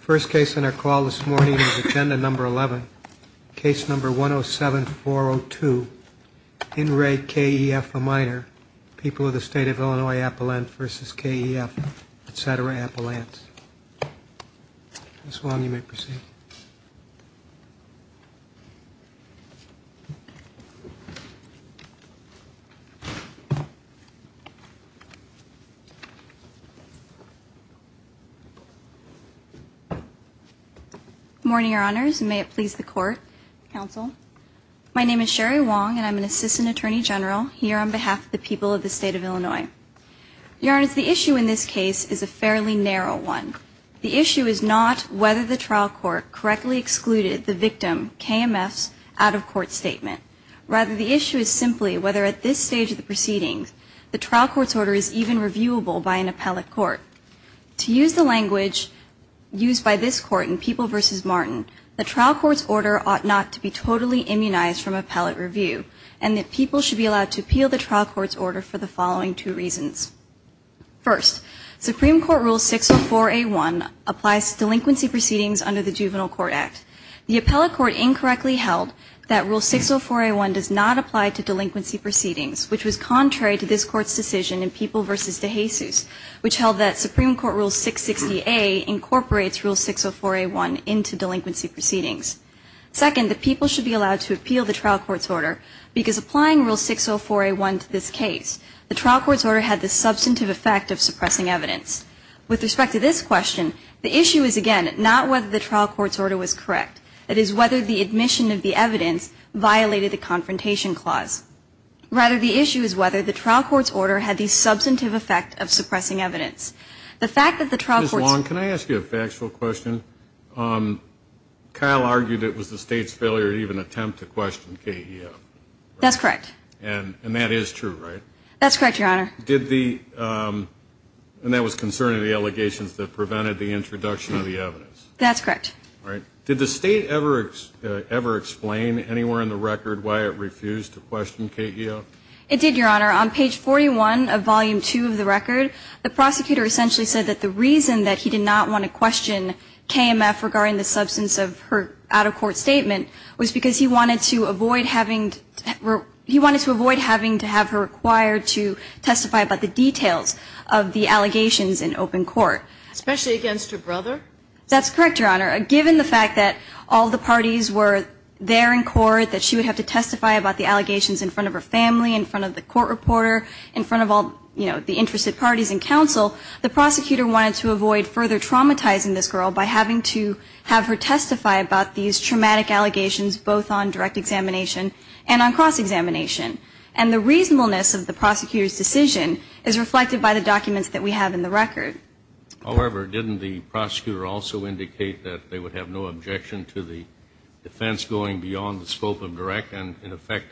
First case on our call this morning is Agenda No. 11, Case No. 107-402, In Re. K.E.F. a Minor, People of the State of Illinois Appellant v. K.E.F., etc. Appellants. Ms. Wong, you may proceed. Good morning, Your Honors, and may it please the Court, Counsel. My name is Sherry Wong, and I'm an Assistant Attorney General here on behalf of the people of the State of Illinois. Your Honors, the issue in this case is a fairly narrow one. The issue is not whether the trial court correctly excluded the victim, K.M.F.'s, out-of-court statement. Rather, the issue is simply whether at this stage of the proceedings the trial court's order is even reviewable by an appellate court. To use the language used by this Court in People v. Martin, the trial court's order ought not to be totally immunized from appellate review, and that people should be allowed to appeal the trial court's order for the following two reasons. First, Supreme Court Rule 604A1 applies to delinquency proceedings under the Juvenile Court Act. The appellate court incorrectly held that Rule 604A1 does not apply to delinquency proceedings, which was contrary to this Court's decision in People v. DeJesus, which held that Supreme Court Rule 660A incorporates Rule 604A1 into delinquency proceedings. Second, the people should be allowed to appeal the trial court's order because applying Rule 604A1 to this case, the trial court's order had the substantive effect of suppressing evidence. With respect to this question, the issue is, again, not whether the trial court's order was correct. It is whether the admission of the evidence violated the confrontation clause. Rather, the issue is whether the trial court's order had the substantive effect of suppressing evidence. The fact that the trial court's order- Ms. Long, can I ask you a factual question? Kyle argued it was the State's failure to even attempt to question KEF. That's correct. And that is true, right? That's correct, Your Honor. Did the- and that was concerning the allegations that prevented the introduction of the evidence. That's correct. All right. Did the State ever explain anywhere in the record why it refused to question KEF? It did, Your Honor. On page 41 of volume 2 of the record, the prosecutor essentially said that the reason that he did not want to question KMF regarding the substance of her out-of-court statement was because he wanted to avoid having- he wanted to avoid having to have her required to testify about the details of the allegations in open court. Especially against her brother? That's correct, Your Honor. Given the fact that all the parties were there in court, that she would have to testify about the allegations in front of her family, in front of the court reporter, in front of all, you know, the interested parties in counsel, the prosecutor wanted to avoid further traumatizing this girl by having to have her testify about these traumatic allegations both on direct examination and on cross-examination. And the reasonableness of the prosecutor's decision is reflected by the documents that we have in the record. However, didn't the prosecutor also indicate that they would have no objection to the defense going beyond the scope of direct and, in effect,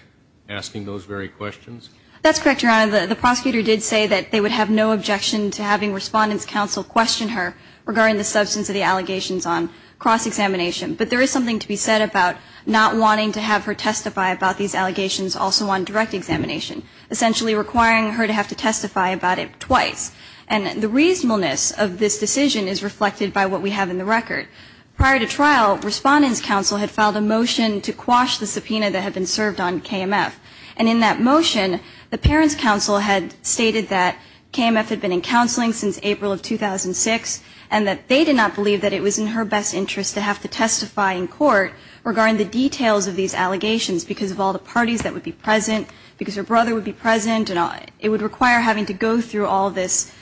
asking those very questions? That's correct, Your Honor. The prosecutor did say that they would have no objection to having Respondent's Counsel question her regarding the substance of the allegations on cross-examination. But there is something to be said about not wanting to have her testify about these allegations also on direct examination, essentially requiring her to have to testify about it twice. And the reasonableness of this decision is reflected by what we have in the record. Prior to trial, Respondent's Counsel had filed a motion to quash the subpoena that had been served on KMF. And in that motion, the parents' counsel had stated that KMF had been in counseling since April of 2006 and that they did not believe that it was in her best interest to have to testify in court regarding the details of these allegations because of all the parties that would be present, because her brother would be present. It would require having to go through all this,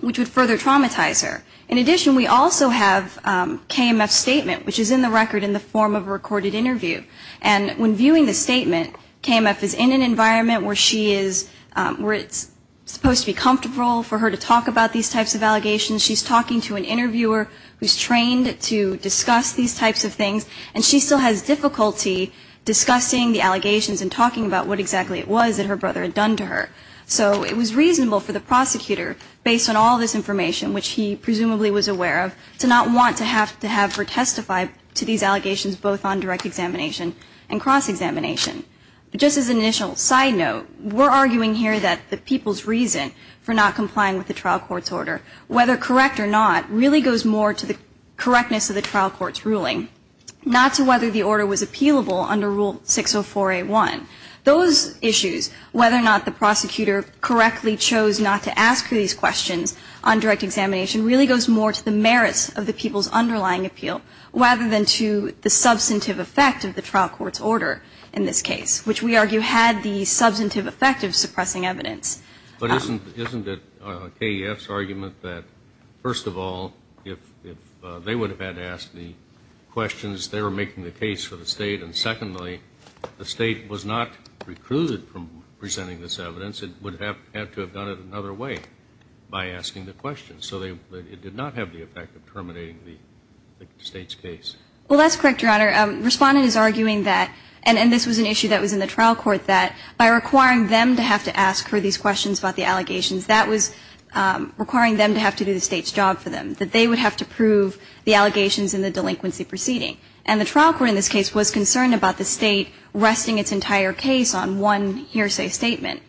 which would further traumatize her. In addition, we also have KMF's statement, which is in the record in the form of a recorded interview. And when viewing the statement, KMF is in an environment where it's supposed to be comfortable for her to talk about these types of allegations. She's talking to an interviewer who's trained to discuss these types of things. And she still has difficulty discussing the allegations and talking about what exactly it was that her brother had done to her. So it was reasonable for the prosecutor, based on all this information, which he presumably was aware of, to not want to have to have her testify to these allegations, both on direct examination and cross-examination. Just as an initial side note, we're arguing here that the people's reason for not complying with the trial court's order, whether correct or not, really goes more to the correctness of the trial court's ruling, not to whether the order was appealable under Rule 604A1. Those issues, whether or not the prosecutor correctly chose not to ask these questions on direct examination, really goes more to the merits of the people's underlying appeal, rather than to the substantive effect of the trial court's order in this case, which we argue had the substantive effect of suppressing evidence. But isn't it KEF's argument that, first of all, if they would have had to ask the questions, they were making the case for the State? And secondly, the State was not recruited from presenting this evidence. It would have had to have done it another way by asking the questions. So it did not have the effect of terminating the State's case. Well, that's correct, Your Honor. Respondent is arguing that, and this was an issue that was in the trial court, that by requiring them to have to ask her these questions about the allegations, that was requiring them to have to do the State's job for them, that they would have to prove the allegations in the delinquency proceeding. And the trial court in this case was concerned about the State resting its entire case on one hearsay statement.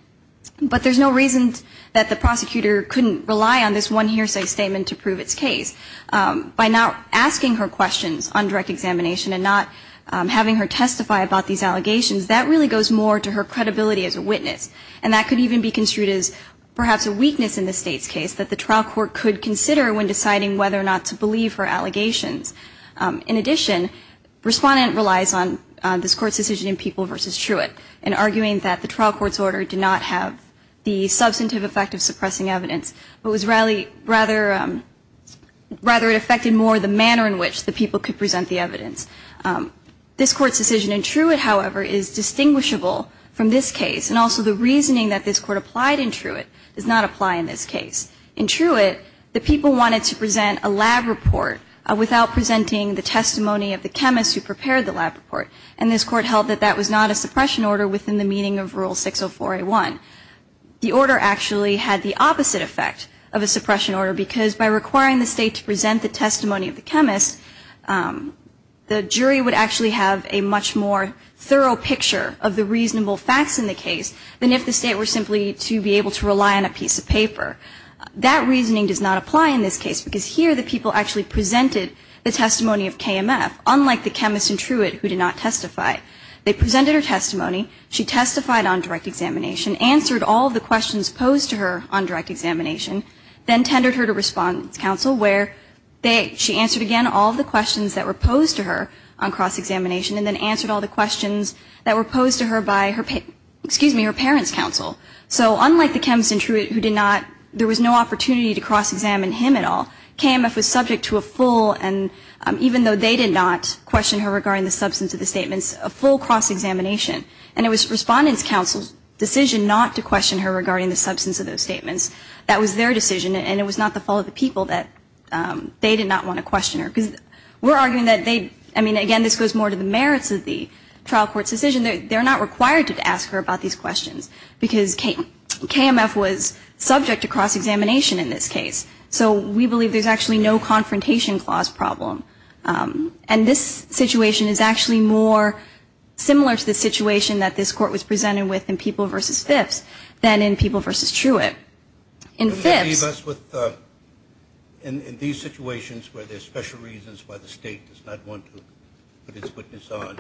But there's no reason that the prosecutor couldn't rely on this one hearsay statement to prove its case. By not asking her questions on direct examination and not having her testify about these allegations, that really goes more to her credibility as a witness. And that could even be construed as perhaps a weakness in the State's case that the trial court could consider when deciding whether or not to believe her allegations. In addition, Respondent relies on this Court's decision in People v. Truitt in arguing that the trial court's order did not have the substantive effect of suppressing evidence, but rather it affected more the manner in which the people could present the evidence. This Court's decision in Truitt, however, is distinguishable from this case. And also the reasoning that this Court applied in Truitt does not apply in this case. In Truitt, the people wanted to present a lab report without presenting the testimony of the chemist who prepared the lab report. And this Court held that that was not a suppression order within the meaning of Rule 604A1. The order actually had the opposite effect of a suppression order because by requiring the State to present the testimony of the chemist, the jury would actually have a much more thorough picture of the reasonable facts in the case than if the State were simply to be able to rely on a piece of paper. That reasoning does not apply in this case because here the people actually presented the testimony of KMF, unlike the chemist in Truitt who did not testify. They presented her testimony. She testified on direct examination, answered all the questions posed to her on direct examination, then tendered her to response counsel where she answered, again, all the questions that were posed to her on cross-examination and then answered all the questions that were posed to her by her parents' counsel. So unlike the chemist in Truitt who did not, there was no opportunity to cross-examine him at all, KMF was subject to a full, and even though they did not question her regarding the substance of the statements, a full cross-examination. And it was respondent's counsel's decision not to question her regarding the substance of those statements. That was their decision and it was not the fault of the people that they did not want to question her. We're arguing that they, I mean, again, this goes more to the merits of the trial court's decision. They're not required to ask her about these questions because KMF was subject to cross-examination in this case. So we believe there's actually no confrontation clause problem. And this situation is actually more similar to the situation that this court was presented with in People v. Phipps than in People v. Truitt. In Phipps. In these situations where there's special reasons why the state does not want to put its witness on,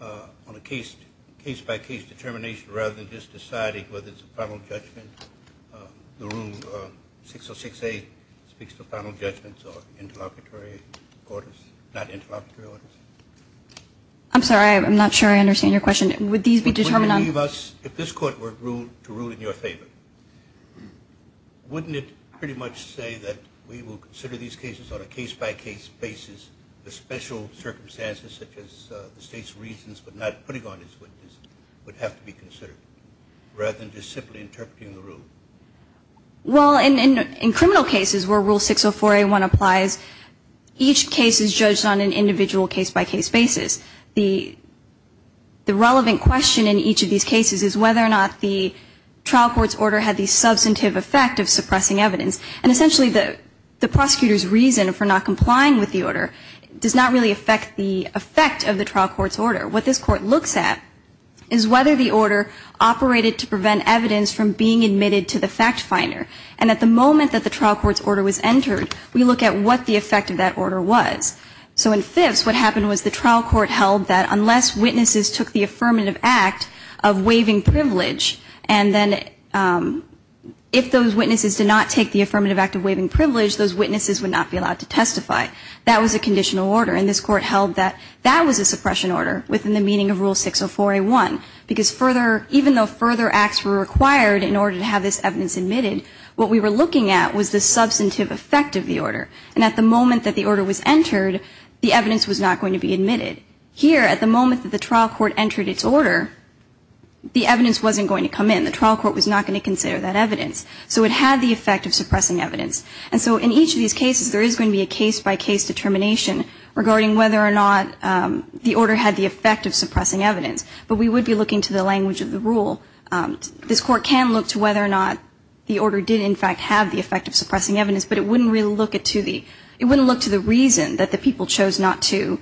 on a case-by-case determination rather than just deciding whether it's a final judgment, the Rule 606A speaks to final judgments or interlocutory orders, not interlocutory orders. I'm sorry. I'm not sure I understand your question. Would these be determined on? Would you leave us, if this court were to rule in your favor, wouldn't it pretty much say that we will consider these cases on a case-by-case basis, the special circumstances such as the state's reasons for not putting on its witness would have to be considered rather than just simply interpreting the rule? Well, in criminal cases where Rule 604A1 applies, each case is judged on an individual case-by-case basis. The relevant question in each of these cases is whether or not the trial court's order had the substantive effect of suppressing evidence. And essentially the prosecutor's reason for not complying with the order does not really affect the effect of the trial court's order. What this court looks at is whether the order operated to prevent evidence from being admitted to the fact finder. And at the moment that the trial court's order was entered, we look at what the effect of that order was. So in fifths, what happened was the trial court held that unless witnesses took the affirmative act of waiving privilege and then if those witnesses did not take the affirmative act of waiving privilege, those witnesses would not be allowed to testify. That was a conditional order. And this court held that that was a suppression order within the meaning of Rule 604A1. Because even though further acts were required in order to have this evidence admitted, what we were looking at was the substantive effect of the order. And at the moment that the order was entered, the evidence was not going to be admitted. Here, at the moment that the trial court entered its order, the evidence wasn't going to come in. The trial court was not going to consider that evidence. So it had the effect of suppressing evidence. And so in each of these cases, there is going to be a case-by-case determination regarding whether or not the order had the effect of suppressing evidence. But we would be looking to the language of the rule. This court can look to whether or not the order did in fact have the effect of suppressing evidence, but it wouldn't really look to the reason that the people chose not to,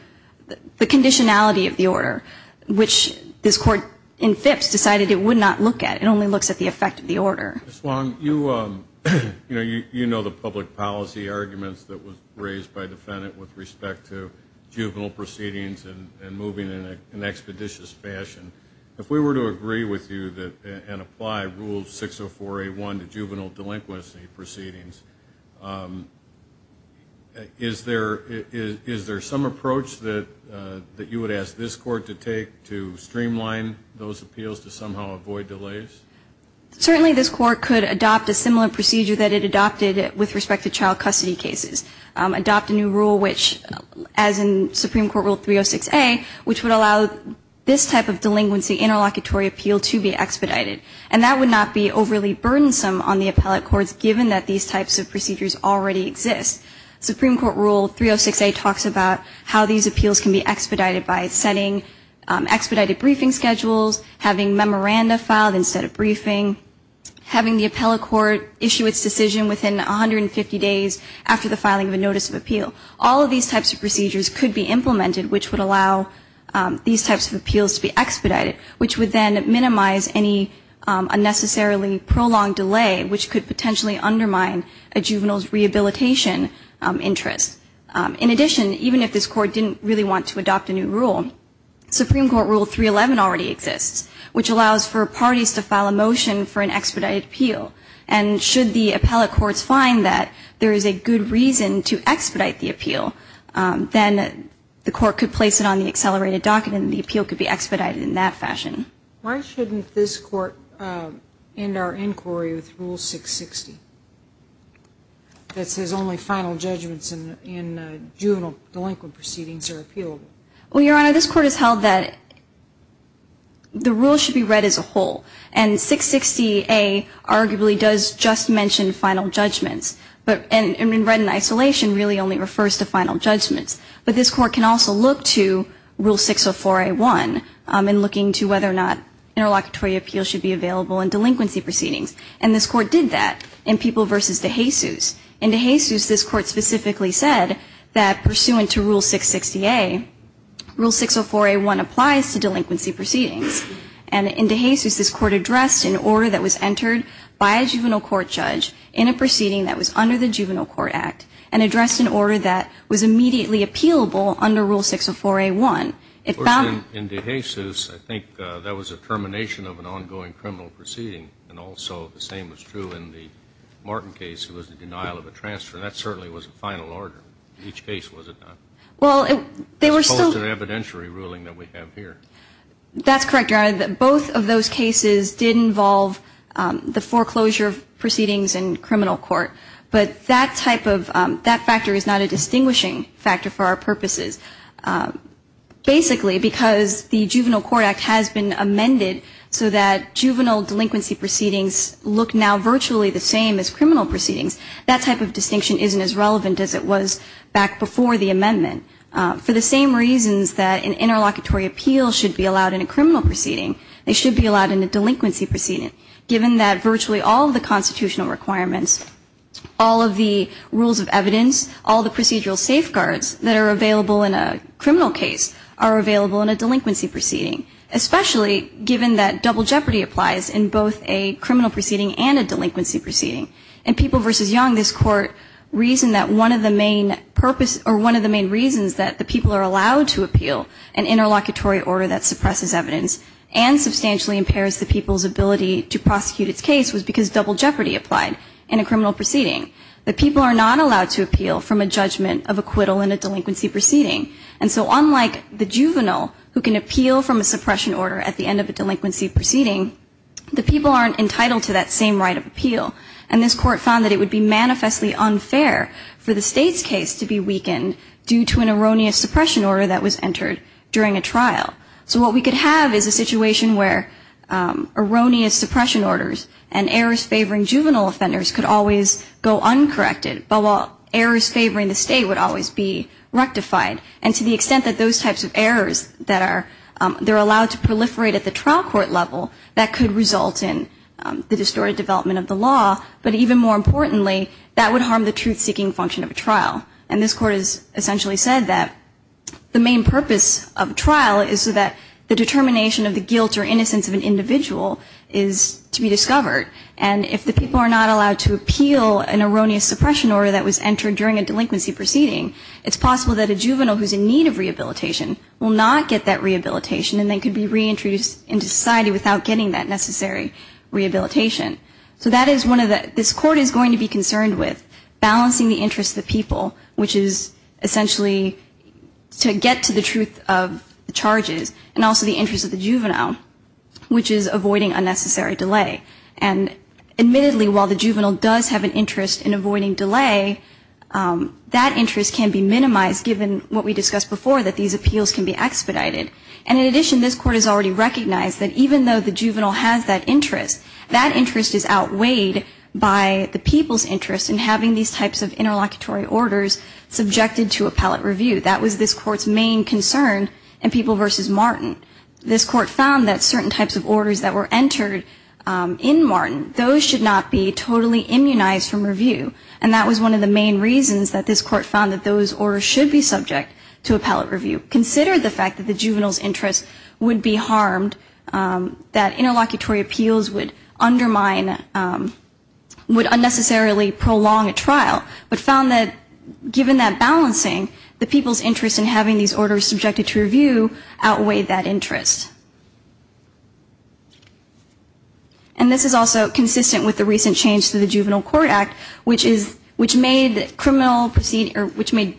the conditionality of the order, which this court in fifths decided it would not look at. It only looks at the effect of the order. Ms. Long, you know the public policy arguments that were raised by the defendant with respect to juvenile proceedings and moving in an expeditious fashion. If we were to agree with you and apply Rule 604A1 to juvenile delinquency proceedings, is there some approach that you would ask this court to take to streamline those appeals to somehow avoid delays? Certainly this court could adopt a similar procedure that it adopted with respect to child custody cases, adopt a new rule which, as in Supreme Court Rule 306A, which would allow this type of delinquency interlocutory appeal to be expedited. And that would not be overly burdensome on the appellate courts, given that these types of procedures already exist. Supreme Court Rule 306A talks about how these appeals can be expedited by setting expedited briefing schedules, having memoranda filed instead of briefing, having the appellate court issue its decision within 150 days after the filing of a notice of appeal. All of these types of procedures could be implemented, which would allow these types of appeals to be expedited, which would then minimize any unnecessarily prolonged delay, which could potentially undermine a juvenile's rehabilitation interest. In addition, even if this court didn't really want to adopt a new rule, Supreme Court Rule 311 already exists, which allows for parties to file a motion for an expedited appeal. And should the appellate courts find that there is a good reason to expedite the appeal, then the court could place it on the accelerated docket and the appeal could be expedited in that fashion. Why shouldn't this court end our inquiry with Rule 660, that says only final judgments in juvenile delinquent proceedings are appealable? Well, Your Honor, this court has held that the rule should be read as a whole. And 660A arguably does just mention final judgments, and read in isolation really only refers to final judgments. But this court can also look to Rule 604A1 in looking to whether or not interlocutory appeals should be available in delinquency proceedings. And this court did that in People v. DeJesus. In DeJesus, this court specifically said that pursuant to Rule 660A, Rule 604A1 applies to delinquency proceedings. And in DeJesus, this court addressed an order that was entered by a juvenile court judge in a proceeding that was under the Juvenile Court Act and addressed an order that was immediately appealable under Rule 604A1. Of course, in DeJesus, I think that was a termination of an ongoing criminal proceeding. And also the same was true in the Martin case. It was the denial of a transfer. That certainly was a final order. In each case, was it not? Well, they were still As opposed to the evidentiary ruling that we have here. That's correct, Your Honor. Both of those cases did involve the foreclosure of proceedings in criminal court. But that type of factor is not a distinguishing factor for our purposes. Basically, because the Juvenile Court Act has been amended so that juvenile delinquency proceedings look now virtually the same as criminal proceedings, that type of distinction isn't as relevant as it was back before the amendment. For the same reasons that an interlocutory appeal should be allowed in a criminal proceeding, it should be allowed in a delinquency proceeding, given that virtually all of the constitutional requirements, all of the rules of evidence, all the procedural safeguards that are available in a criminal case are available in a delinquency proceeding, especially given that double jeopardy applies in both a criminal proceeding and a delinquency proceeding. In People v. Young, this Court reasoned that one of the main purposes or one of the main reasons that the people are allowed to appeal an interlocutory order that suppresses evidence and substantially impairs the people's ability to prosecute its case was because double jeopardy applied in a criminal proceeding. The people are not allowed to appeal from a judgment of acquittal in a delinquency proceeding. And so unlike the juvenile who can appeal from a suppression order at the end of a delinquency proceeding, the people aren't entitled to that same right of appeal. And this Court found that it would be manifestly unfair for the State's case to be weakened due to an erroneous suppression order that was entered during a trial. So what we could have is a situation where erroneous suppression orders and errors favoring juvenile offenders could always go uncorrected, but while errors favoring the State would always be rectified. And to the extent that those types of errors that are allowed to proliferate at the trial court level, that could result in the distorted development of the law. But even more importantly, that would harm the truth-seeking function of a trial. And this Court has essentially said that the main purpose of trial is so that the determination of the guilt or innocence of an individual is to be discovered. And if the people are not allowed to appeal an erroneous suppression order that was entered during a delinquency proceeding, it's possible that a juvenile who's in need of rehabilitation will not get that rehabilitation and they could be reintroduced into society without getting that necessary rehabilitation. So this Court is going to be concerned with balancing the interests of the people, which is essentially to get to the truth of the charges, and also the interests of the juvenile, which is avoiding unnecessary delay. And admittedly, while the juvenile does have an interest in avoiding delay, that interest can be minimized given what we discussed before, that these appeals can be expedited. And in addition, this Court has already recognized that even though the juvenile has that interest, that interest is outweighed by the people's interest in having these types of interlocutory orders subjected to appellate review. That was this Court's main concern in People v. Martin. This Court found that certain types of orders that were entered in Martin, those should not be totally immunized from review. And that was one of the main reasons that this Court found that those orders should be subject to appellate review. Consider the fact that the juvenile's interest would be harmed, that interlocutory appeals would undermine, would unnecessarily prolong a trial, but found that given that balancing, the people's interest in having these orders subjected to review outweighed that interest. And this is also consistent with the recent change to the Juvenile Court Act, which made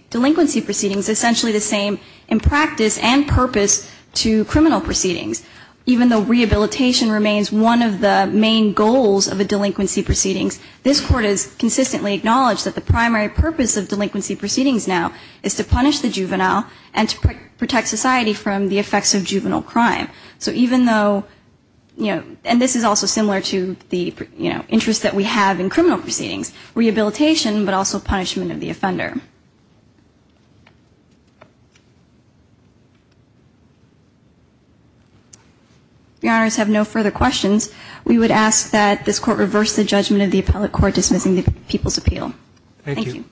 delinquency proceedings essentially the same in practice and purpose to criminal proceedings. Even though rehabilitation remains one of the main goals of a delinquency proceedings, this Court has consistently acknowledged that the primary purpose of delinquency proceedings now is to punish the juvenile and to protect society from the effects of juvenile crime. So even though, you know, and this is also similar to the, you know, Your Honors, have no further questions. We would ask that this Court reverse the judgment of the appellate court dismissing the people's appeal. Thank you.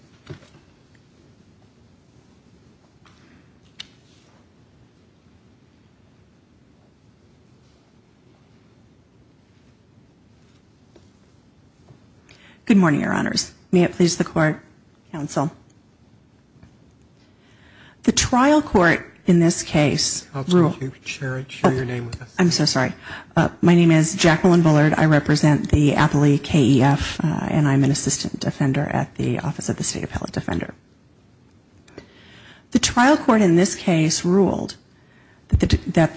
Good morning, Your Honors. May it please the Court, Counsel. The trial court in this case ruled I'm so sorry. My name is Jacqueline Bullard. I represent the appellate KEF and I'm an assistant defender at the Office of the State Appellate Defender. The trial court in this case ruled that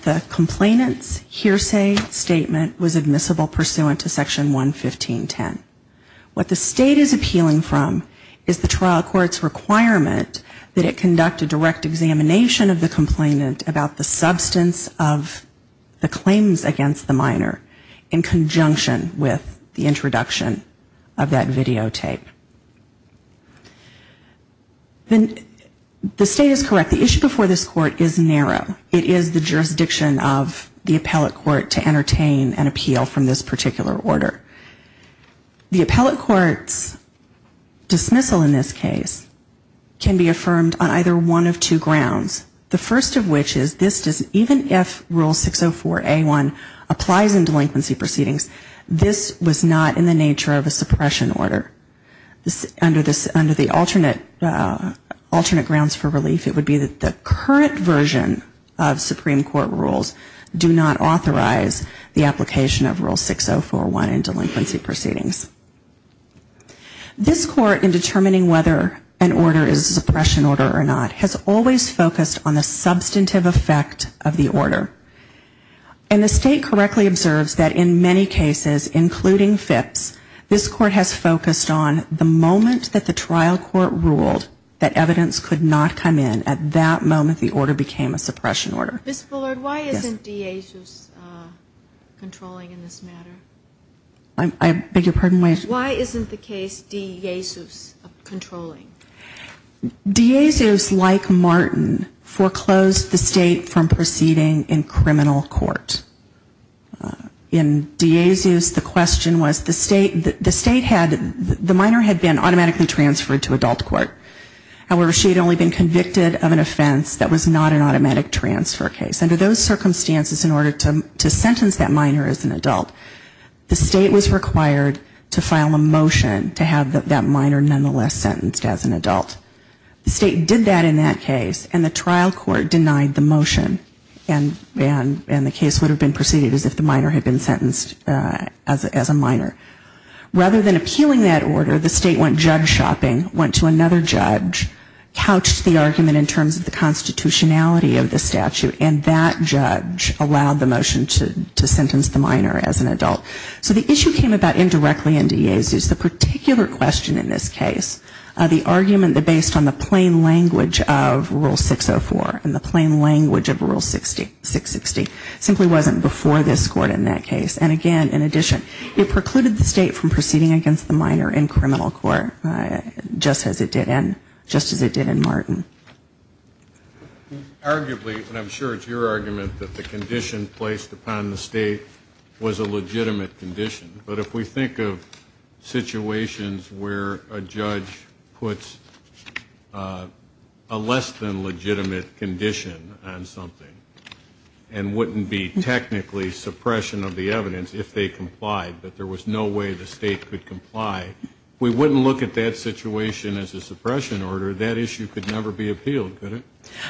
the complainant's hearsay statement was admissible pursuant to Section 115.10. What the State is appealing from is the trial court's requirement that it conduct a direct examination of the complainant about the substance of the claims against the minor in conjunction with the introduction of that videotape. The State is correct. The issue before this Court is narrow. It is the jurisdiction of the appellate court to entertain an appeal from this particular order. The appellate court's dismissal in this case can be affirmed on either one of two grounds. The first of which is even if Rule 604A1 applies in delinquency proceedings, this was not in the nature of a suppression order. Under the alternate grounds for relief, it would be that the current version of Supreme Court rules do not authorize the application of Rule 604A1 in delinquency proceedings. This Court, in determining whether an order is a suppression order or not, has always focused on the substantive effect of the order. And the State correctly observes that in many cases, including Phipps, this Court has focused on the moment that the trial court ruled that evidence could not come in, at that moment the order became a suppression order. Ms. Bullard, why isn't de Jesus controlling in this matter? I beg your pardon? Why isn't the case de Jesus controlling? De Jesus, like Martin, foreclosed the State from proceeding in criminal court. In de Jesus, the question was the State had, the minor had been automatically transferred to adult court. However, she had only been convicted of an offense that was not an automatic transfer case. Under those circumstances, in order to sentence that minor as an adult, the State was required to file a motion to have that minor nonetheless sentenced as an adult. The State did that in that case, and the trial court denied the motion. And the case would have been proceeded as if the minor had been sentenced as a minor. Rather than appealing that order, the State went judge shopping, went to another judge, couched the argument in terms of the constitutionality of the statute, and that judge allowed the motion to sentence the minor as an adult. So the issue came about indirectly in de Jesus. The particular question in this case, the argument based on the plain language of Rule 604 and the plain language of Rule 660, simply wasn't before this Court in that case. And again, in addition, it precluded the State from proceeding against the minor in criminal court, just as it did in Martin. Arguably, and I'm sure it's your argument, that the condition placed upon the State was a legitimate condition. But if we think of situations where a judge puts a less than legitimate condition on something and wouldn't be technically suppression of the evidence if they complied, but there was no way the State could comply, we wouldn't look at that situation as a suppression order. That issue could never be appealed, could it?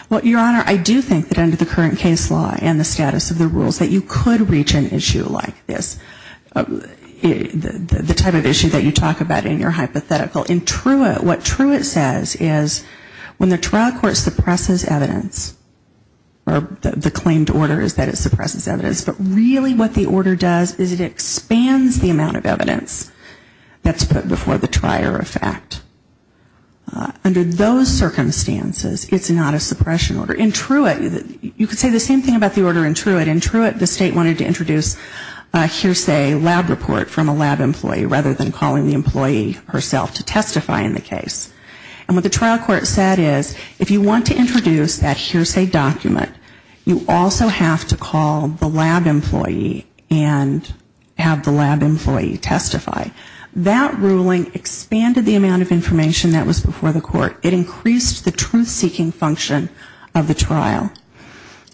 Well, Your Honor, I do think that under the current case law and the status of the rules, that you could reach an issue like this, the type of issue that you talk about in your hypothetical. In Truett, what Truett says is when the trial court suppresses evidence, or the claimed order is that it suppresses evidence, but really what the order does is it expands the amount of evidence that's put before the trier of fact. Under those circumstances, it's not a suppression order. In Truett, you could say the same thing about the order in Truett. In Truett, the State wanted to introduce a hearsay lab report from a lab employee, rather than calling the employee herself to testify in the case. And what the trial court said is, if you want to introduce that hearsay document, you also have to call the lab employee and have the lab employee testify. That ruling expanded the amount of information that was before the court. It increased the truth-seeking function of the trial.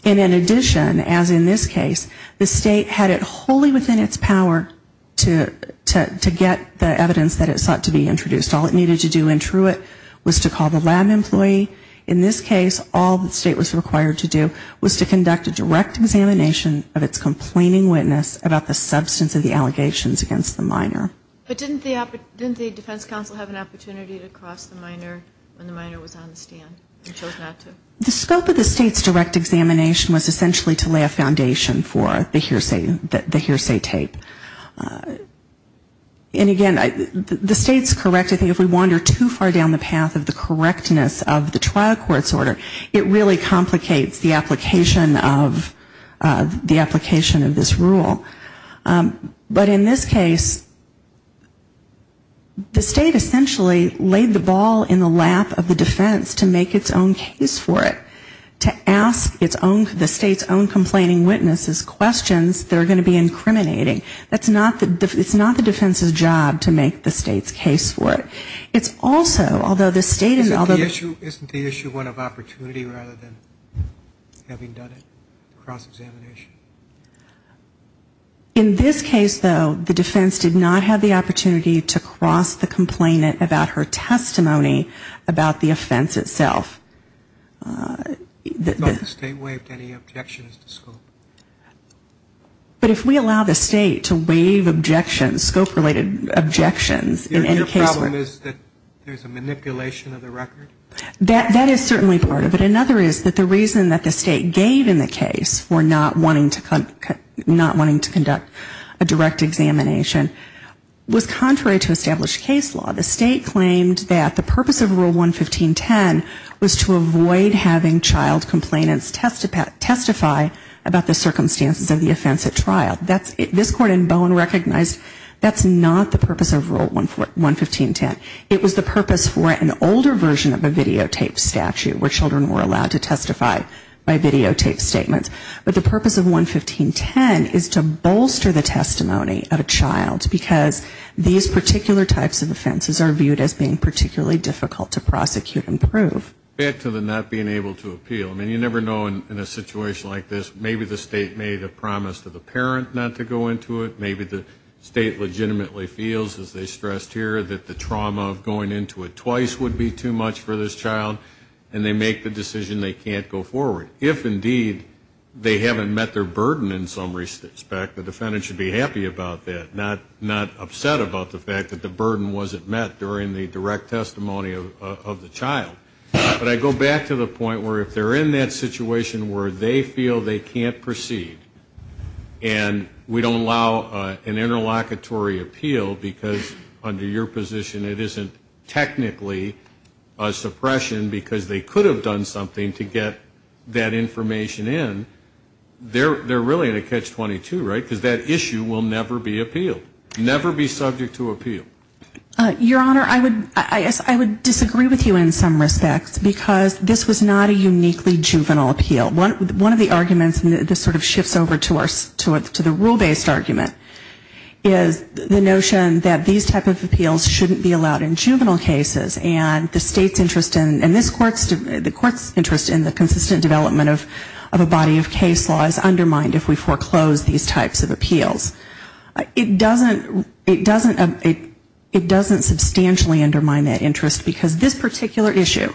And in addition, as in this case, the State had it wholly within its power to get the evidence that it sought to be introduced. All it needed to do in Truett was to call the lab employee. In this case, all the State was required to do was to conduct a direct examination of its complaining witness about the substance of the allegations against the minor. But didn't the defense counsel have an opportunity to cross the minor when the minor was on the stand and chose not to? The scope of the State's direct examination was essentially to lay a foundation for the hearsay tape. And again, the State's correct. I think if we wander too far down the path of the correctness of the trial court's order, it really complicates the application of this rule. But in this case, the State essentially laid the ball in the lap of the defense to make its own case for it. To ask the State's own complaining witnesses questions that are going to be incriminating. It's not the defense's job to make the State's case for it. It's also, although the State is also the issue. Isn't the issue one of opportunity rather than having done it, cross-examination? In this case, though, the defense did not have the opportunity to cross the complainant about her testimony about the offense itself. The State waived any objections to scope? But if we allow the State to waive objections, scope-related objections in any case where Your problem is that there's a manipulation of the record? That is certainly part of it. Another is that the reason that the State gave in the case for not wanting to conduct a direct examination was contrary to established case law. The State claimed that the purpose of Rule 115.10 was to avoid having child complainants testify about the circumstances of the offense at trial. This Court in Bowen recognized that's not the purpose of Rule 115.10. It was the purpose for an older version of a videotaped statute where children were allowed to testify by videotaped statements. But the purpose of 115.10 is to bolster the testimony of a child. Because these particular types of offenses are viewed as being particularly difficult to prosecute and prove. Back to the not being able to appeal. I mean, you never know in a situation like this. Maybe the State made a promise to the parent not to go into it. Maybe the State legitimately feels, as they stressed here, that the trauma of going into it twice would be too much for this child. And they make the decision they can't go forward. If, indeed, they haven't met their burden in some respect, the defendant should be happy about that, not upset about the fact that the burden wasn't met during the direct testimony of the child. But I go back to the point where if they're in that situation where they feel they can't proceed and we don't allow an interlocutory appeal because, under your position, it isn't technically a suppression because they could have done something to get that information in, they're really in a catch-22, right? Because that issue will never be appealed. Never be subject to appeal. Your Honor, I would disagree with you in some respects because this was not a uniquely juvenile appeal. One of the arguments, and this sort of shifts over to the rule-based argument, is the notion that these type of appeals shouldn't be allowed in juvenile cases. And the state's interest in this court's interest in the consistent development of a body of case law is undermined if we foreclose these types of appeals. It doesn't substantially undermine that interest because this particular issue,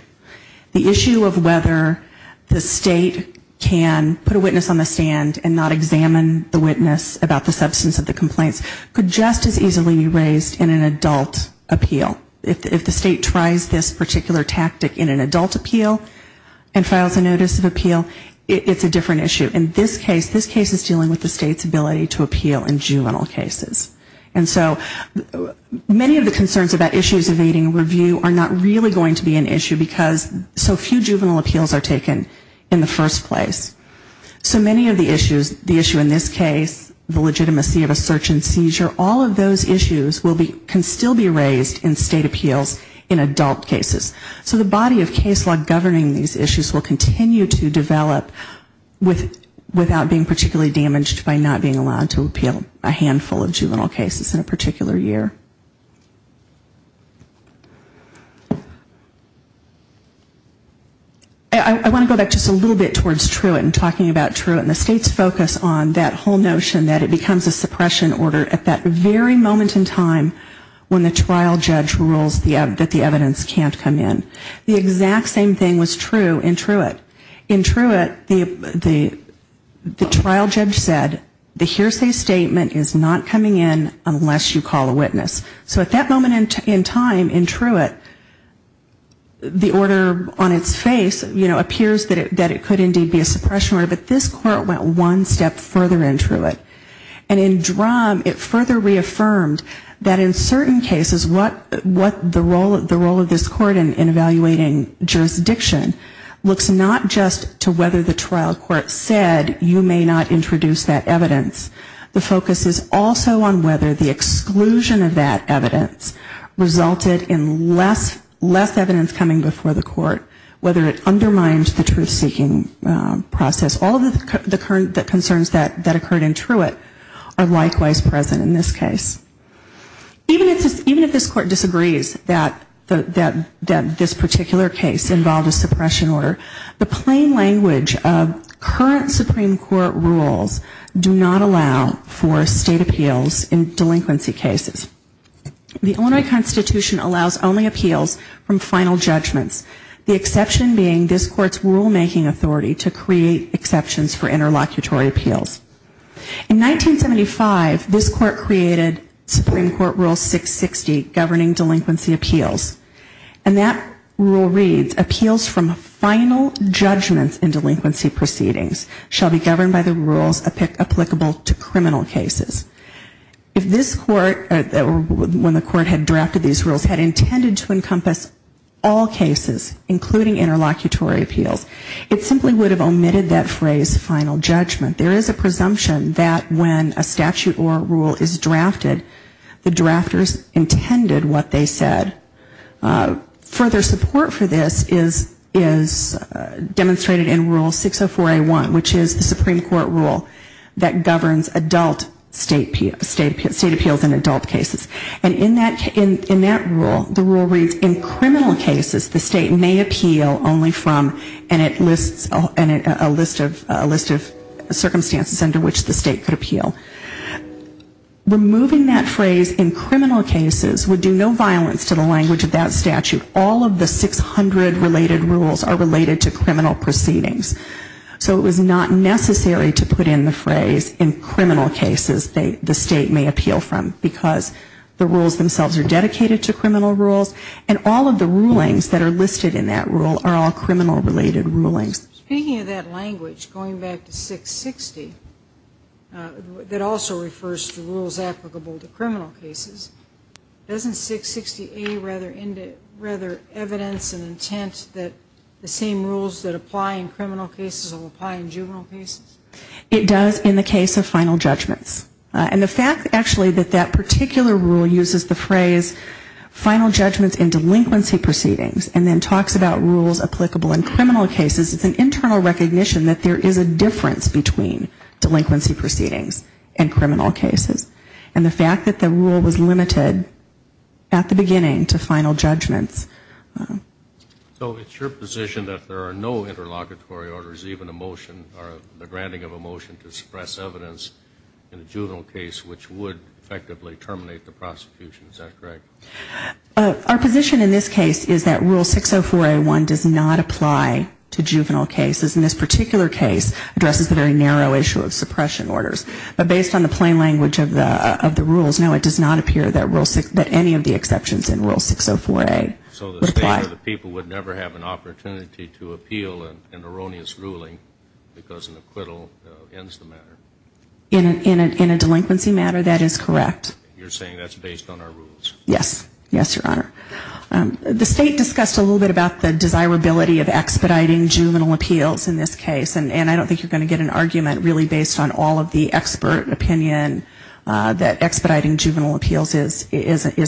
the issue of whether the state can put a witness on the stand and not examine the witness about the substance of the complaints, could just as easily be raised in an adult appeal. If the state tries this particular tactic in an adult appeal and files a notice of appeal, it's a different issue. In this case, this case is dealing with the state's ability to appeal in juvenile cases. And so many of the concerns about issues evading review are not really going to be an issue because so few juvenile appeals are taken in the first place. So many of the issues, the issue in this case, the legitimacy of a search and seizure, all of those issues can still be raised in state appeals in adult cases. So the body of case law governing these issues will continue to develop without being particularly damaged by not being allowed to appeal a handful of juvenile cases in a particular year. I want to go back just a little bit towards Truitt and talking about Truitt and the state's focus on that whole notion that it becomes a suppression order at that very moment in time when the trial judge rules that the evidence can't come in. The exact same thing was true in Truitt. In Truitt, the trial judge said the hearsay statement is not coming in unless you call a witness. So at that moment in time in Truitt, the order on its face, you know, appears that it could indeed be a suppression order. But this court went one step further in Truitt. And in Drumm, it further reaffirmed that in certain cases what the role of this court in evaluating jurisdiction looks not just to whether the trial court said you may not introduce that evidence. The focus is also on whether the exclusion of that evidence resulted in less evidence coming before the court, whether it resulted in less evidence coming before the court. So all of the concerns that occurred in Truitt are likewise present in this case. Even if this court disagrees that this particular case involved a suppression order, the plain language of current Supreme Court rules do not allow for state appeals in delinquency cases. The Illinois Constitution allows only appeals from final judgments, the exception being this court's rulemaking authority to create exceptions for interlocutory appeals. In 1975, this court created Supreme Court rule 660, governing delinquency appeals. And that rule reads, appeals from final judgments in delinquency proceedings shall be governed by the rules applicable to criminal cases. If this court, or when the court had drafted these rules, had intended to encompass all cases, including interlocutory appeals, it simply is final judgment. There is a presumption that when a statute or rule is drafted, the drafters intended what they said. Further support for this is demonstrated in rule 604A1, which is the Supreme Court rule that governs adult state appeals in adult cases. And in that rule, the rule reads, in criminal cases, the state may appeal only from, and it lists a list of circumstances under which the state could appeal. Removing that phrase, in criminal cases, would do no violence to the language of that statute. All of the 600 related rules are related to criminal proceedings. So it was not necessary to put in the phrase, in criminal cases, the state may appeal from. Because the rules themselves are dedicated to criminal rules, and all of the rulings that are listed in that rule are all criminal related rulings. Speaking of that language, going back to 660, that also refers to rules applicable to criminal cases, doesn't 660A rather evidence and intent that the same rules that apply in criminal cases will apply in juvenile cases? It does in the case of final judgments. And the fact actually that that particular rule uses the phrase, final judgments in delinquency proceedings, and then talks about rules applicable in criminal cases, it's an internal recognition that there is a difference between delinquency proceedings and criminal cases. And the fact that the rule was limited at the beginning to final judgments. So it's your position that there are no interlocutory orders, even a motion or the granting of a motion to suppress evidence in a juvenile case which would effectively terminate the prosecution, is that correct? Our position in this case is that rule 604A1 does not apply to juvenile cases. And this particular case addresses the very narrow issue of suppression orders. But based on the plain language of the rules, no, it does not appear that any of the rule 604A would apply. So the state or the people would never have an opportunity to appeal an erroneous ruling because an acquittal ends the matter? In a delinquency matter, that is correct. You're saying that's based on our rules? Yes. Yes, Your Honor. The state discussed a little bit about the desirability of expediting juvenile appeals in this case. And I don't think you're going to get an argument really based on all of the expert opinion that expediting juvenile appeals is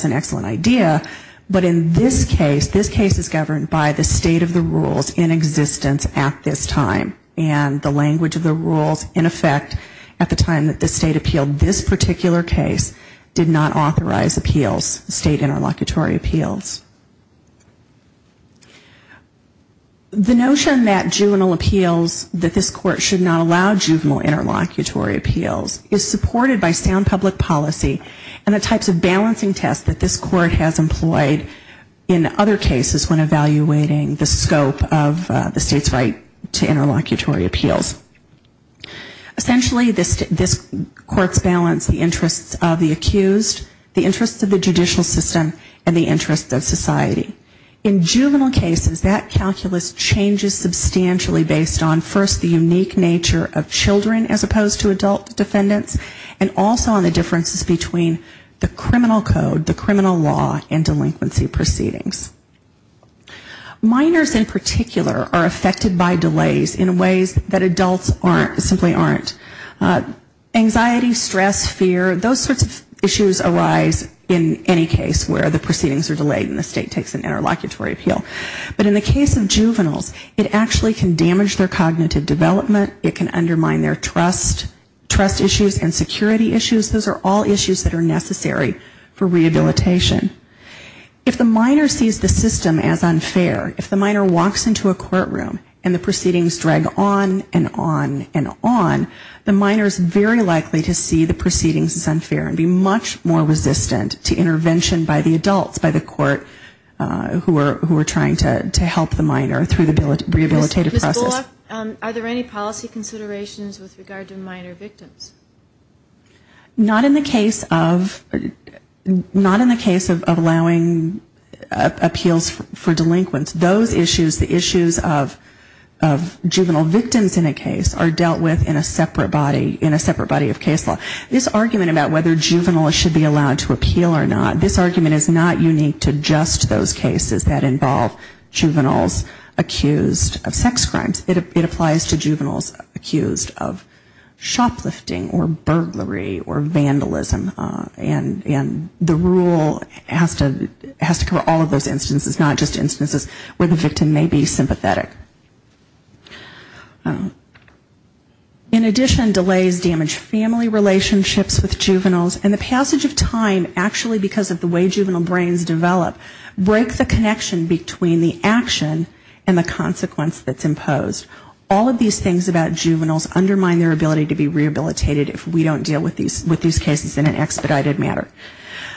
an excellent idea. But in this case, this case is governed by the state of the rules in existence at this time. And the language of the rules, in effect, at the time that the state appealed this particular case did not authorize appeals, state interlocutory appeals. The notion that juvenile appeals, that this court should not allow juvenile interlocutory appeals is supported by sound public policy and the types of balancing tests that this court has employed in other cases when evaluating the scope of the state's right to interlocutory appeals. Essentially, this court's balance, the interests of the accused, the interests of the judicial system, and the interests of state society. In juvenile cases, that calculus changes substantially based on first the unique nature of children as opposed to adult defendants, and also on the differences between the criminal code, the criminal law, and delinquency proceedings. Minors in particular are affected by delays in ways that adults simply aren't. Anxiety, stress, fear, those sorts of issues arise in any case where the proceedings are delayed and the state takes an interlocutory appeal. But in the case of juveniles, it actually can damage their cognitive development, it can undermine their trust, trust issues and security issues. Those are all issues that are necessary for rehabilitation. If the minor sees the system as unfair, if the minor walks into a courtroom and the proceedings drag on and on and on, the minor is very likely to see the proceedings as unfair and be much more resistant to intervention by the adults, by the court who are trying to help the minor through the rehabilitative process. Ms. Bullock, are there any policy considerations with regard to minor victims? Not in the case of allowing appeals for delinquents. Those issues, the issues of juvenile victims in a case are dealt with in a separate body of case law. This argument about whether juveniles should be allowed to appeal or not, this argument is not unique to just those cases that involve juveniles accused of sex crimes. It applies to juveniles accused of shoplifting or burglary or vandalism. And the rule has to cover all of those instances, not just instances where the victim may be sympathetic. In addition, delays damage family relationships with juveniles and the passage of time actually because of the way juvenile brains develop, break the connection between the action and the consequence that's imposed. All of these things about juveniles undermine their ability to be rehabilitated if we don't deal with these cases in an expedited manner.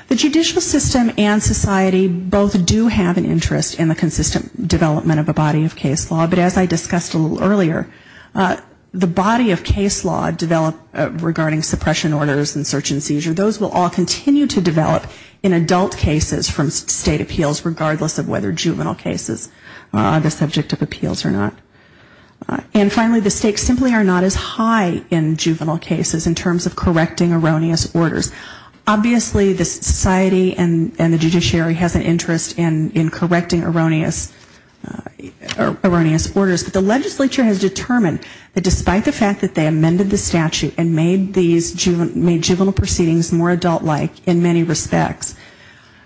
The judicial system and society both do have an interest in the consistent development of a body of case law. But as I discussed a little earlier, the body of case law developed regarding suppression orders and search and seizure, those will all continue to develop in adult cases from state appeals regardless of whether juvenile cases are the subject of appeals or not. And finally, the stakes simply are not as high in juvenile cases in terms of correcting erroneous orders. Obviously, the society and the legislature has determined that despite the fact that they amended the statute and made juvenile proceedings more adult-like in many respects,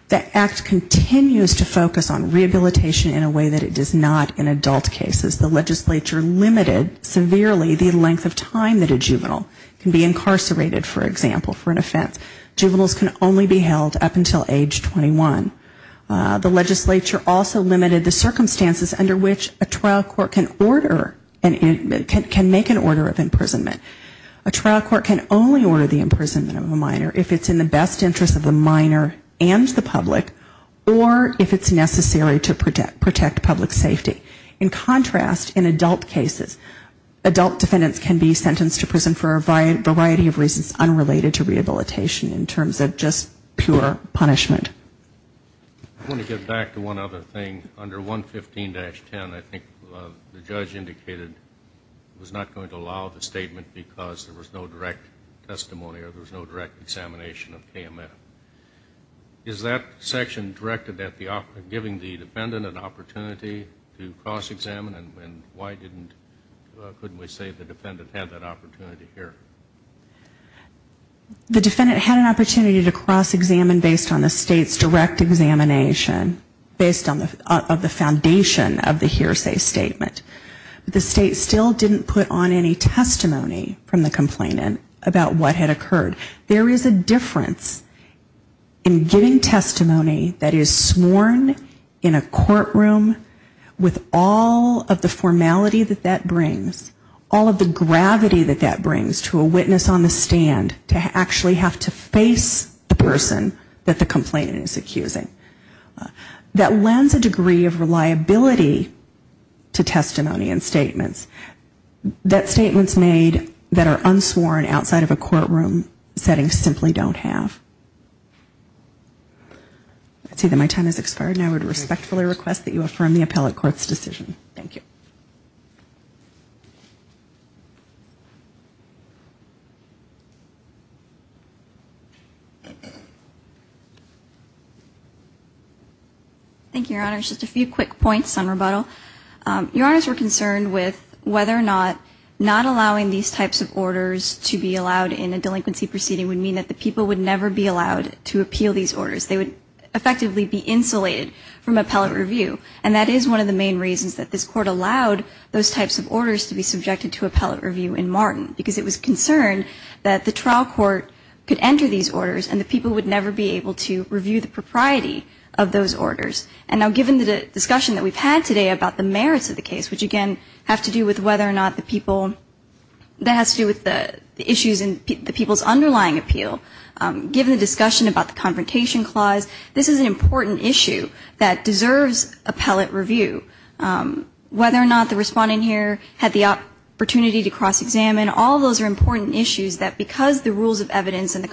the act continues to focus on rehabilitation in a way that it does not in adult cases. The legislature limited severely the length of time that a juvenile can be incarcerated, for example, for an offense. Juveniles can only be held up until age 21. The legislature also limited the circumstances under which a 12-year-old juvenile can make an order of imprisonment. A trial court can only order the imprisonment of a minor if it's in the best interest of the minor and the public or if it's necessary to protect public safety. In contrast, in adult cases, adult defendants can be sentenced to prison for a variety of reasons unrelated to rehabilitation in terms of just pure punishment. I want to get back to one other thing. Under 115-10, I think the judge indicated it was not going to allow the statement because there was no direct testimony or there was no direct examination of KMF. Is that section directed at giving the defendant an opportunity to cross-examine? And why couldn't we say the defendant had that opportunity here? The defendant had an opportunity to cross-examine based on the state's direct examination, based on the foundation of the hearsay statement. The state still didn't put on any testimony from the complainant about what had occurred. There is a difference in giving testimony that is sworn in a courtroom with all of the formality that that brings, all of the gravity that brings to a witness on the stand to actually have to face the person that the complainant is accusing. That lends a degree of reliability to testimony and statements. That statements made that are unsworn outside of a courtroom setting simply don't have. I see that my time has expired and I would respectfully request that you affirm the appellate court's decision. Thank you. Thank you, Your Honor. Just a few quick points on rebuttal. Your Honors, we're concerned with whether or not not allowing these types of orders to be allowed in a delinquency proceeding would mean that the people would never be allowed to appeal these orders. They would effectively be insulated from appellate review. And that is one of the main reasons that this court allowed those types of orders to be subjected to appellate review in Martin, because it was concerned that the trial court could enter these orders and the people would never be able to review the propriety of those orders. And now given the discussion that we've had today about the merits of the case, which again have to do with whether or not the people, that has to do with the issues in the people's underlying appeal, given the discussion about the Confrontation Clause, this is an important issue that deserves appellate review. Whether or not the respondent here had the opportunity to cross-examine, all those are important issues that because the rules of evidence in the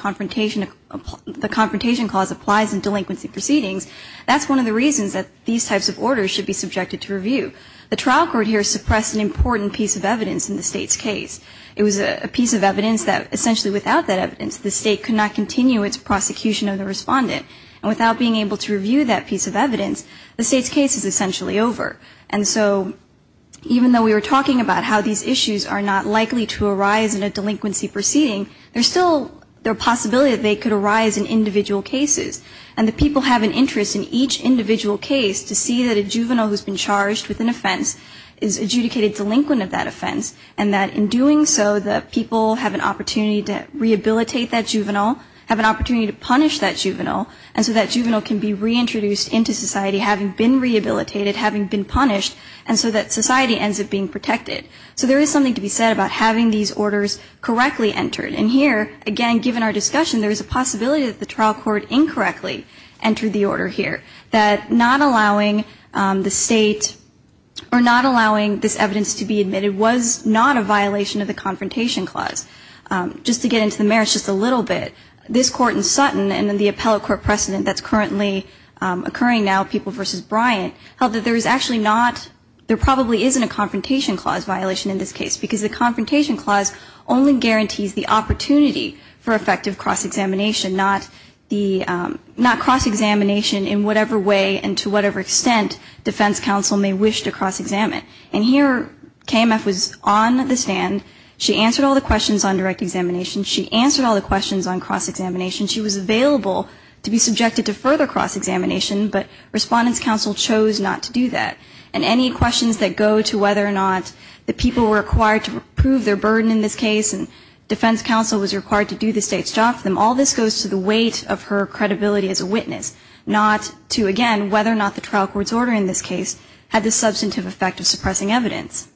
Confrontation Clause applies in delinquency proceedings, that's one of the reasons that these types of orders should be subjected to review. The trial court here suppressed an important piece of evidence in the state's case. It was a piece of evidence that essentially without that evidence the state could not continue its prosecution of the case. And so this case is essentially over. And so even though we were talking about how these issues are not likely to arise in a delinquency proceeding, there's still the possibility that they could arise in individual cases. And the people have an interest in each individual case to see that a juvenile who's been charged with an offense is adjudicated delinquent of that offense, and that in doing so the people have an opportunity to rehabilitate that juvenile, have an opportunity to punish that juvenile, and so that society ends up being protected. So there is something to be said about having these orders correctly entered. And here, again, given our discussion, there is a possibility that the trial court incorrectly entered the order here, that not allowing the state or not allowing this evidence to be admitted was not a violation of the Confrontation Clause. Just to get into the merits just a little bit, this court in Sutton and then the appellate court precedent that's currently occurring now, People v. Bryant, held that there is actually not, there probably isn't a Confrontation Clause violation in this case, because the Confrontation Clause only guarantees the opportunity for effective cross-examination, not the, not cross-examination in whatever way and to whatever extent defense counsel may wish to cross-examine. And here KMF was on the stand. She answered all the questions on direct examination. She answered all the questions on cross-examination. She was available to be subjected to further cross-examination, but Respondent's Counsel chose not to do that. And any questions that go to whether or not the people were required to prove their burden in this case and defense counsel was required to do the state's job for them, all this goes to the weight of her credibility as a witness, not to, again, whether or not the trial court's order in this case had the substantive effect of suppressing evidence.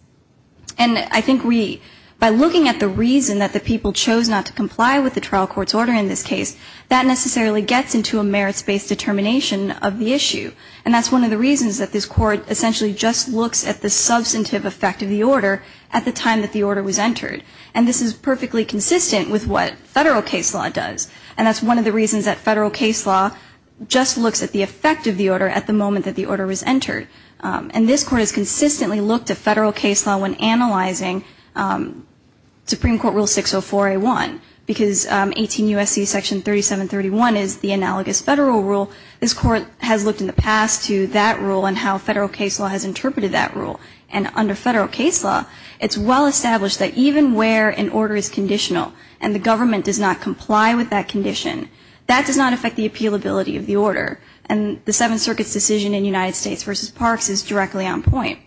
And I think we, by looking at the reason that the people chose not to comply with the trial court's order in this case, that necessarily gets into a merits-based determination of the issue. And that's one of the reasons that this Court essentially just looks at the substantive effect of the order at the time that the order was entered. And this is perfectly consistent with what Federal case law does. And that's one of the reasons that Federal case law just looks at the effect of the order at the moment that the order was entered. And this Court has consistently looked at whether to not do that. You look at Section 3731, because 18 USC Section 731 is the analogous Federal rule. This Court has looked in the past to that rule and how Federal case law has interpreted that rule. And under Federal case law, it's well established that even where an order is conditional and the government does not comply with that condition, that does not affect the appealability of the order, and the Seventh Circuit's decision in United States v. Parks is directly on point.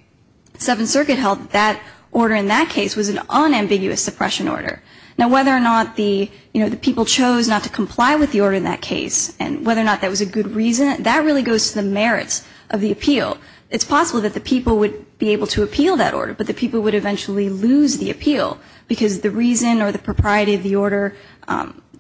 The Seventh Circuit held that that order in that case was an unambiguous suppression order. Now, whether or not the, you know, the people chose not to comply with the order in that case and whether or not that was a good reason, that really goes to the merits of the appeal. It's possible that the people would be able to appeal that order, but the people would eventually lose the appeal, because the reason or the propriety of the order,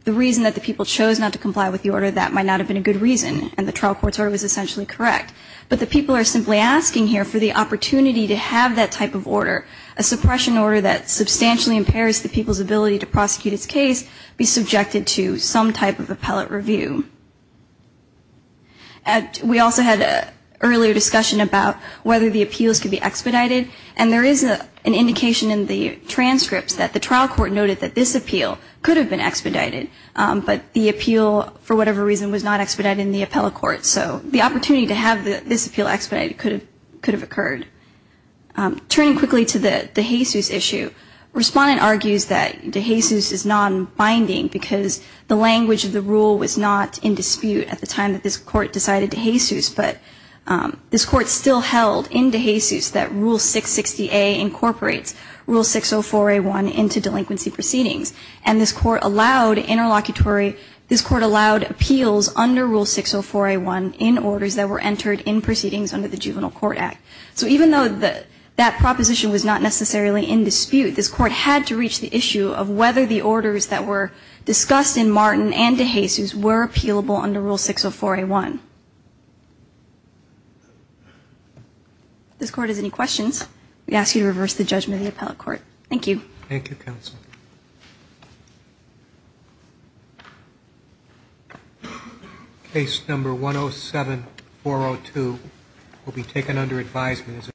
the reason that the people chose not to comply with the order, that might not have been a good reason, and the trial court's order was essentially correct. But the people are simply asking here for the opportunity to have that type of order, a suppression order that substantially impairs the people's ability to prosecute its case, be subjected to some type of appellate review. We also had an earlier discussion about whether the appeals could be expedited, and there is an indication in the transcripts that the trial court noted that this appeal could have been expedited, but the appeal, for whatever reason, was not expedited in the appellate court. So the opportunity to have this appeal expedited could have occurred. Turning quickly to the DeJesus issue, Respondent argues that DeJesus is non-binding, because the language of the rule was not in dispute at the time that this Court decided DeJesus, but this Court still held in DeJesus that Rule 660A incorporates Rule 604A1 into delinquency proceedings, and this Court allowed interlocutory, this Court allowed appeals under Rule 604A1 in orders that were discussed in Martin and DeJesus were appealable under Rule 604A1. If this Court has any questions, we ask you to reverse the judgment of the appellate court. Thank you. Thank you, counsel. Case number 107-402 will be taken under advisement as a result of the Court's decision to suspend the trial.